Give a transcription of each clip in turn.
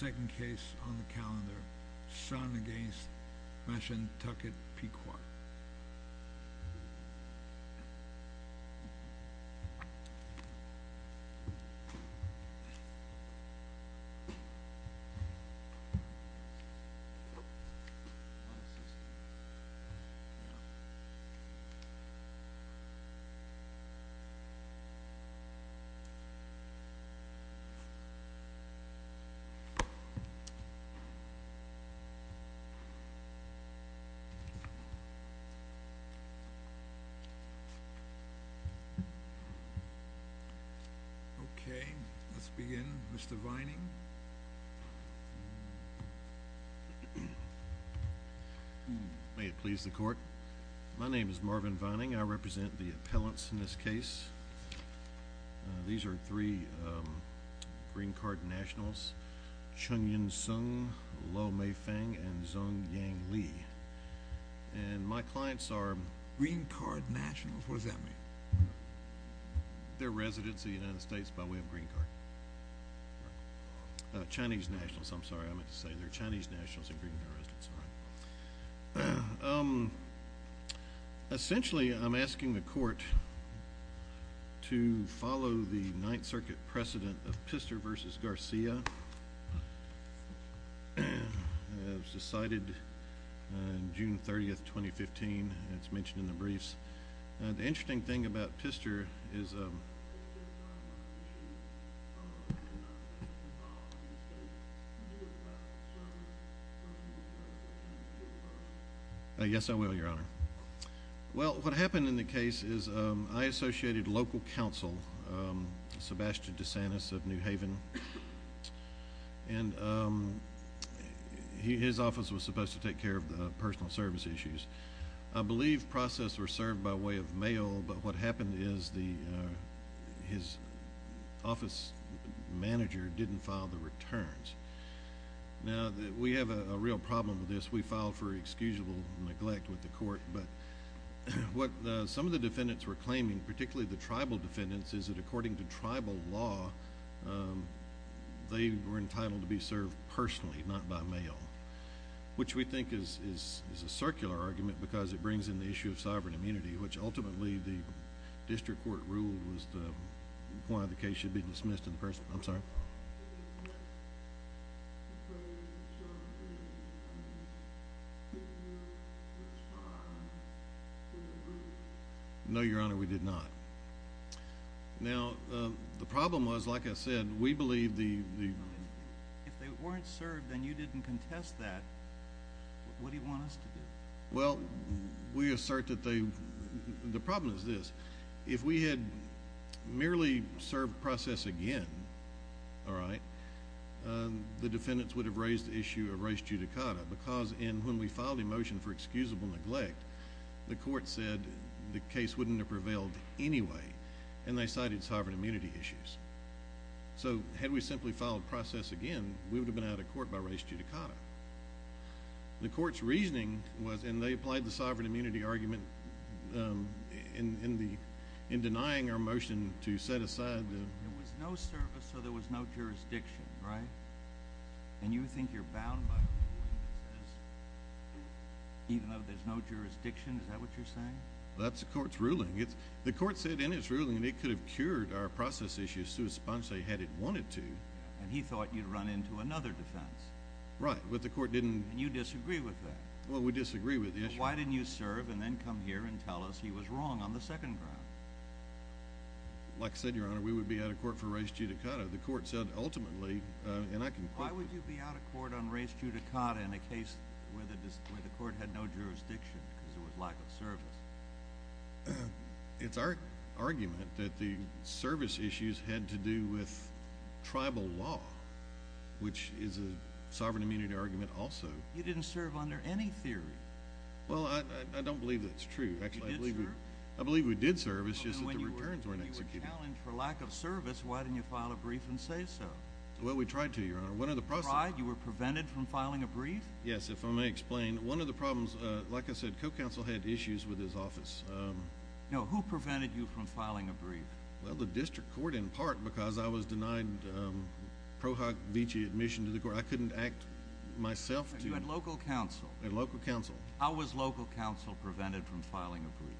Second case on the calendar. Son v. Mashantucket Pequot Okay. Let's begin. Mr. Vining. May it please the court. My name is Marvin Vining. I represent the appellants in this case. These are three green card nationals. Charles, John, and John Chung-Yen Sung, Luo Mei-Fang, and Zeng Yang Li. And my clients are green card nationals. What does that mean? They're residents of the United States by way of green card. Chinese nationals. I'm sorry. I meant to say they're Chinese nationals and green card residents. Essentially I'm asking the court to follow the Ninth Circuit precedent of Pister v. Garcia as decided June 30th, 2015. It's mentioned in the briefs. The interesting thing about Pister is... Yes, I will, Your Honor. Well, what happened in the case is I associated local counsel, Sebastian DeSantis of New Haven, and his office was supposed to take care of the personal service issues. I believe process were served by way of mail, but what happened is his office manager didn't file the returns. Now, we have a real problem with this. We filed for excusable neglect with the court, but what some of the defendants were claiming, particularly the tribal defendants, is that according to tribal law, they were entitled to be served personally, not by mail, which we think is a circular argument because it brings in the issue of sovereign immunity, which ultimately the district court ruled was the point of the case should be dismissed in the first... I'm sorry? No, Your Honor, we did not. Now, the problem was, like I said, we believe the... If they weren't served and you didn't contest that, what do you want us to do? Well, we assert that they... The problem is this. If we had merely served process again, the defendants would have raised the issue of res judicata because when we filed a motion for excusable neglect, the court said the case wouldn't have prevailed anyway, and they cited sovereign immunity issues. Had we simply filed process again, we would have been out of court by res judicata. The court's reasoning was, and they applied the sovereign immunity argument in denying our motion to set aside the... There was no service, so there was no jurisdiction, right? And you think you're bound by a ruling that says even though there's no jurisdiction, is that what you're saying? That's the court's ruling. The court said in its ruling it could have cured our process issue, sua sponsae, had it wanted to. And he thought you'd run into another defense. Right, but the court didn't... And you disagree with that. Well, we disagree with the issue. Why didn't you serve and then come here and tell us he was wrong on the second ground? Like I said, Your Honor, we would be out of court for res judicata. The court said ultimately, and I can... Why would you be out of court on res judicata in a case where the court had no jurisdiction because there was lack of service? It's our argument that the service issues had to do with tribal law, which is a sovereign immunity argument also. You didn't serve under any theory. Well, I don't believe that's true. You did serve? I believe we did serve. It's just that the returns were inexecutive. When you were challenged for lack of service, why didn't you file a brief and say so? Well, we tried to, Your Honor. One of the problems... You tried? You were prevented from filing a brief? Yes, if I may explain. One of the problems, like I said, Co-Counsel had issues with his office. No. Who prevented you from filing a brief? Well, the district court in part because I was denied Pro Hoc Vici admission to the court. I couldn't act myself to... You had local counsel? I had local counsel. How was local counsel prevented from filing a brief?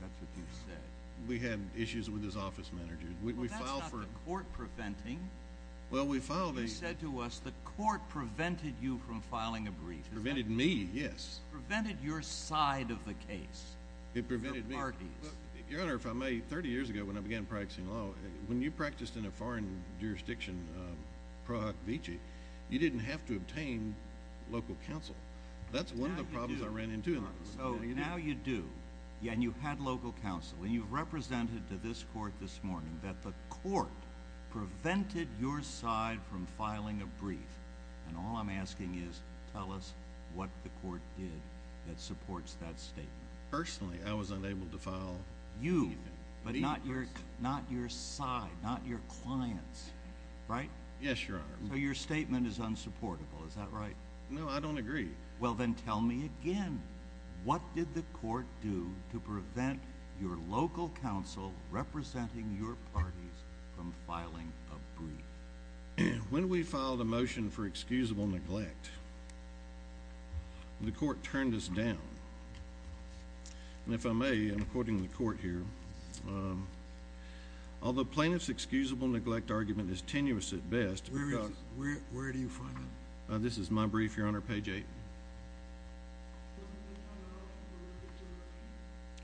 That's what you said. We had issues with his office manager. We filed for... Well, that's not the court preventing. Well, we filed a... You said to us the court prevented you from filing a brief. Prevented me, yes. Prevented your side of the case, the parties. It prevented me. Your Honor, if I may, 30 years ago when I began practicing law, when you practiced in a foreign jurisdiction, Pro Hoc Vici, you didn't have to obtain local counsel. That's one of the problems I ran into in that. So now you do, and you had local counsel, and you've represented to this court this morning that the court prevented your side from filing a brief, and all I'm asking is tell us what the court did that supports that statement. Personally, I was unable to file anything. You, but not your side, not your clients, right? Yes, Your Honor. So your statement is unsupportable, is that right? No, I don't agree. Well, then tell me again. What did the court do to prevent your local counsel representing your parties from filing a brief? When we filed a motion for excusable neglect, the court turned us down. And if I may, I'm quoting the court here, although plaintiff's excusable neglect argument is tenuous at best, where do you find that? This is my brief, Your Honor, page 8.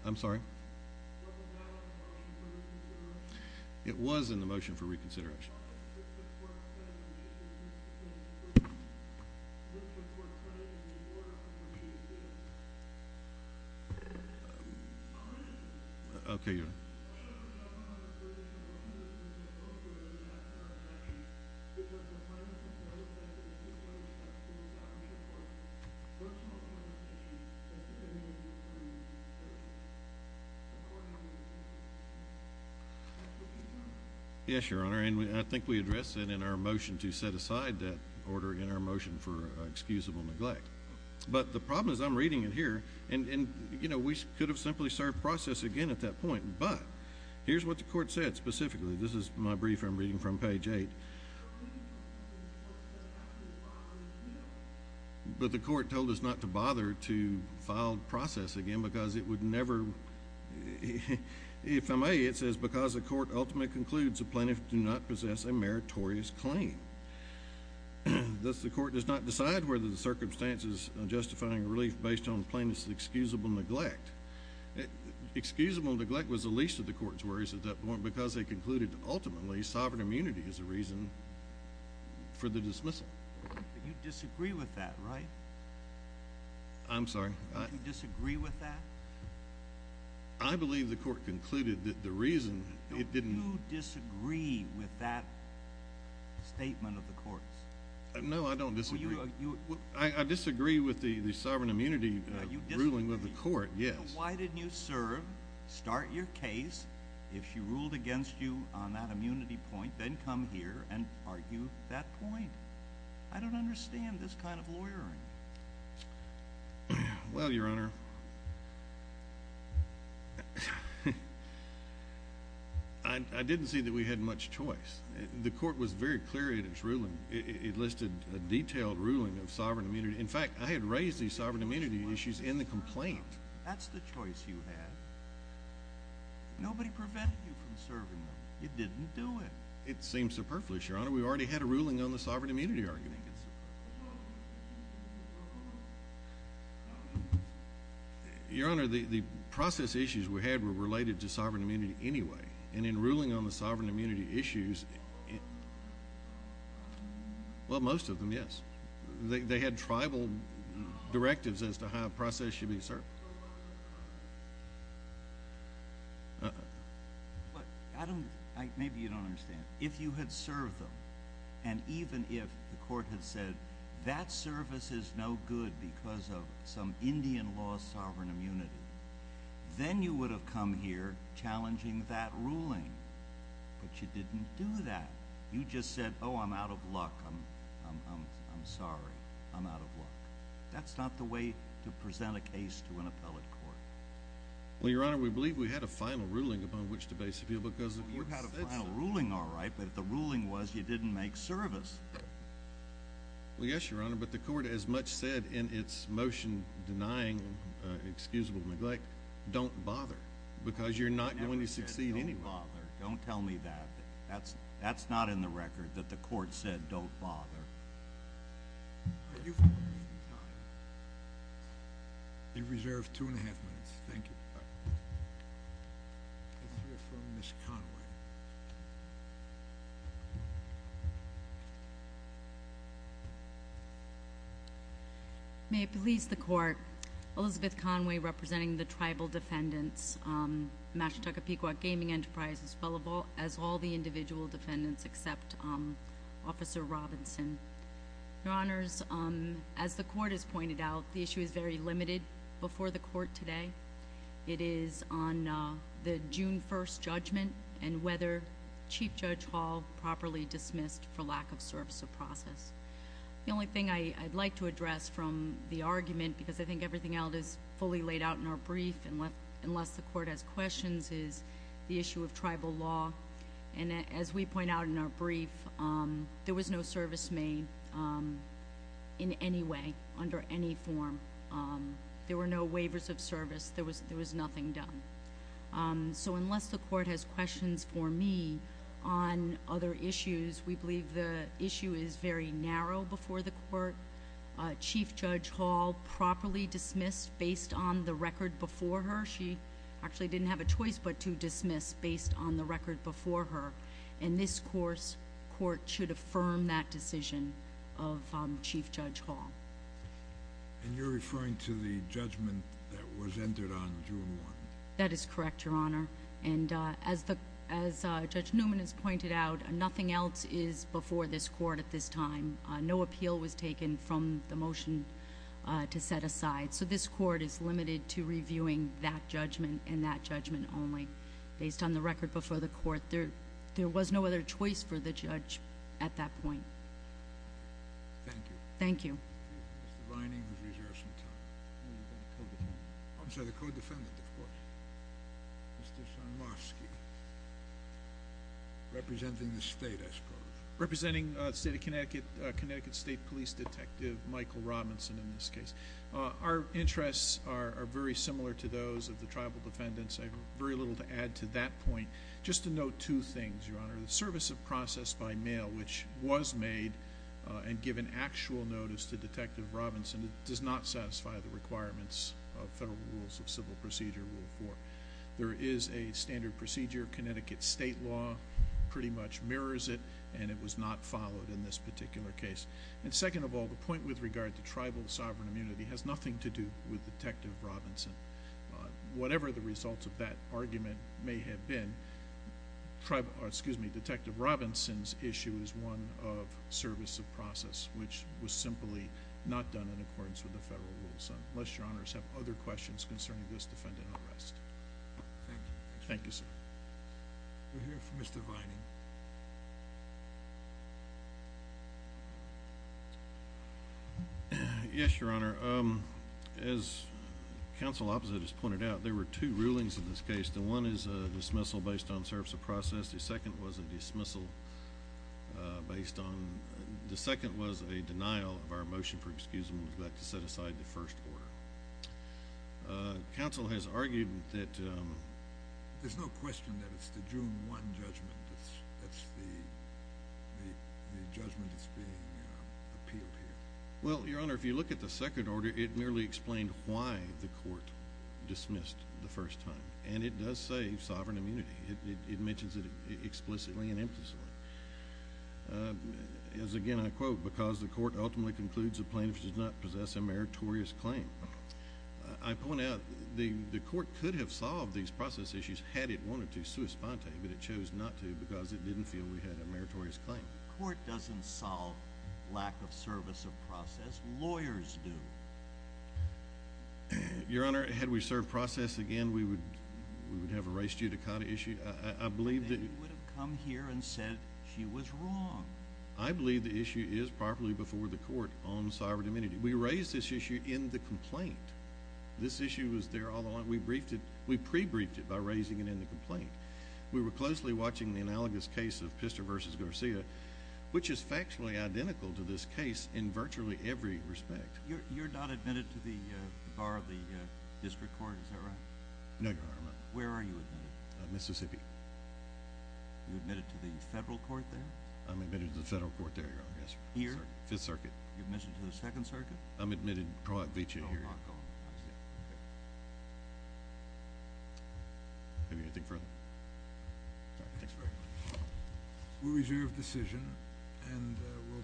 I'm sorry? It was in the motion for reconsideration. Okay, Your Honor. Yes, Your Honor, and I think we addressed it in our motion to set aside that order in our motion for excusable neglect. But the problem is I'm reading it here, and, you know, we could have simply served process again at that point. But here's what the court said specifically. This is my brief I'm reading from, page 8. But the court told us not to bother to file process again because it would never – if I may, it says because the court ultimately concludes a plaintiff do not possess a meritorious claim. Thus, the court does not decide whether the circumstances on justifying a relief based on plaintiff's excusable neglect. Excusable neglect was the least of the court's worries at that point because they concluded ultimately sovereign immunity is the reason for the dismissal. But you disagree with that, right? I'm sorry? Do you disagree with that? I believe the court concluded that the reason it didn't – Don't you disagree with that statement of the court's? No, I don't disagree. I disagree with the sovereign immunity ruling of the court, yes. Why didn't you serve, start your case, if she ruled against you on that immunity point, then come here and argue that point? I don't understand this kind of lawyering. Well, Your Honor, I didn't see that we had much choice. The court was very clear in its ruling. It listed a detailed ruling of sovereign immunity. In fact, I had raised these sovereign immunity issues in the complaint. That's the choice you had. Nobody prevented you from serving them. You didn't do it. It seems superfluous, Your Honor. We already had a ruling on the sovereign immunity argument. Your Honor, the process issues we had were related to sovereign immunity anyway. In ruling on the sovereign immunity issues – well, most of them, yes. They had tribal directives as to how a process should be served. But I don't – maybe you don't understand. If you had served them, and even if the court had said that service is no good because of some Indian law sovereign immunity, then you would have come here challenging that ruling. But you didn't do that. You just said, oh, I'm out of luck, I'm sorry, I'm out of luck. That's not the way to present a case to an appellate court. Well, Your Honor, we believe we had a final ruling upon which to base appeal because – Well, you had a final ruling, all right, but if the ruling was you didn't make service. Well, yes, Your Honor, but the court has much said in its motion denying excusable neglect, don't bother, because you're not going to succeed anyway. I never said don't bother. Don't tell me that. That's not in the record that the court said don't bother. You've reserved two-and-a-half minutes. Thank you. Let's hear from Ms. Conway. May it please the Court, Elizabeth Conway representing the Tribal Defendants, Mashantucka Pequot Gaming Enterprises, as well as all the individual defendants except Officer Robinson. Your Honors, as the Court has pointed out, the issue is very limited before the Court today. It is on the June 1st judgment and whether Chief Judge Hall properly dismissed for lack of service of process. The only thing I'd like to address from the argument, because I think everything else is fully laid out in our brief, unless the Court has questions, is the issue of tribal law. And as we point out in our brief, there was no service made in any way, under any form. There were no waivers of service. There was nothing done. So unless the Court has questions for me on other issues, we believe the issue is very narrow before the Court. Chief Judge Hall properly dismissed based on the record before her. She actually didn't have a choice but to dismiss based on the record before her. And this Court should affirm that decision of Chief Judge Hall. And you're referring to the judgment that was entered on June 1st? That is correct, Your Honor. And as Judge Newman has pointed out, nothing else is before this Court at this time. No appeal was taken from the motion to set aside. So this Court is limited to reviewing that judgment and that judgment only. Based on the record before the Court, there was no other choice for the judge at that point. Thank you. Thank you. Mr. Vining has reserved some time. Who is that co-defendant? I'm sorry, the co-defendant, of course. Mr. Sarnofsky. Representing the State, I suppose. Representing the State of Connecticut, Connecticut State Police Detective Michael Robinson, in this case. Our interests are very similar to those of the tribal defendants. I have very little to add to that point. Just to note two things, Your Honor. The service of process by mail, which was made and given actual notice to Detective Robinson, does not satisfy the requirements of Federal Rules of Civil Procedure, Rule 4. There is a standard procedure, Connecticut State law pretty much mirrors it, and it was not followed in this particular case. And second of all, the point with regard to tribal sovereign immunity has nothing to do with Detective Robinson. Whatever the results of that argument may have been, Detective Robinson's issue is one of service of process, which was simply not done in accordance with the Federal Rules of Civil Procedure, unless Your Honors have other questions concerning this defendant and the rest. Thank you. Thank you, sir. We'll hear from Mr. Vining. Yes, Your Honor. As counsel opposite has pointed out, there were two rulings in this case. The one is a dismissal based on service of process. The second was a dismissal based on – the second was a denial of our motion for excusement with that to set aside the first order. Counsel has argued that – There's no question that it's the June 1 judgment. That's the judgment that's being appealed here. Well, Your Honor, if you look at the second order, it merely explained why the court dismissed the first time. And it does say sovereign immunity. It mentions it explicitly and emphatically. As again I quote, because the court ultimately concludes a plaintiff does not possess a meritorious claim. I point out the court could have solved these process issues had it wanted to sui sponte, but it chose not to because it didn't feel we had a meritorious claim. The court doesn't solve lack of service of process. Lawyers do. Your Honor, had we served process again, we would have erased you to kind of issue. I believe that – They would have come here and said she was wrong. I believe the issue is properly before the court on sovereign immunity. We raised this issue in the complaint. This issue was there all along. We briefed it – we pre-briefed it by raising it in the complaint. We were closely watching the analogous case of Pistor v. Garcia, which is factually identical to this case in virtually every respect. You're not admitted to the bar of the district court, is that right? No, Your Honor. Where are you admitted? Mississippi. You admitted to the federal court there? I'm admitted to the federal court there, Your Honor. Here? Fifth Circuit. You're admitted to the Second Circuit? I'm admitted – Don't knock on it. I see. Okay. Have you anything further? All right, thanks very much.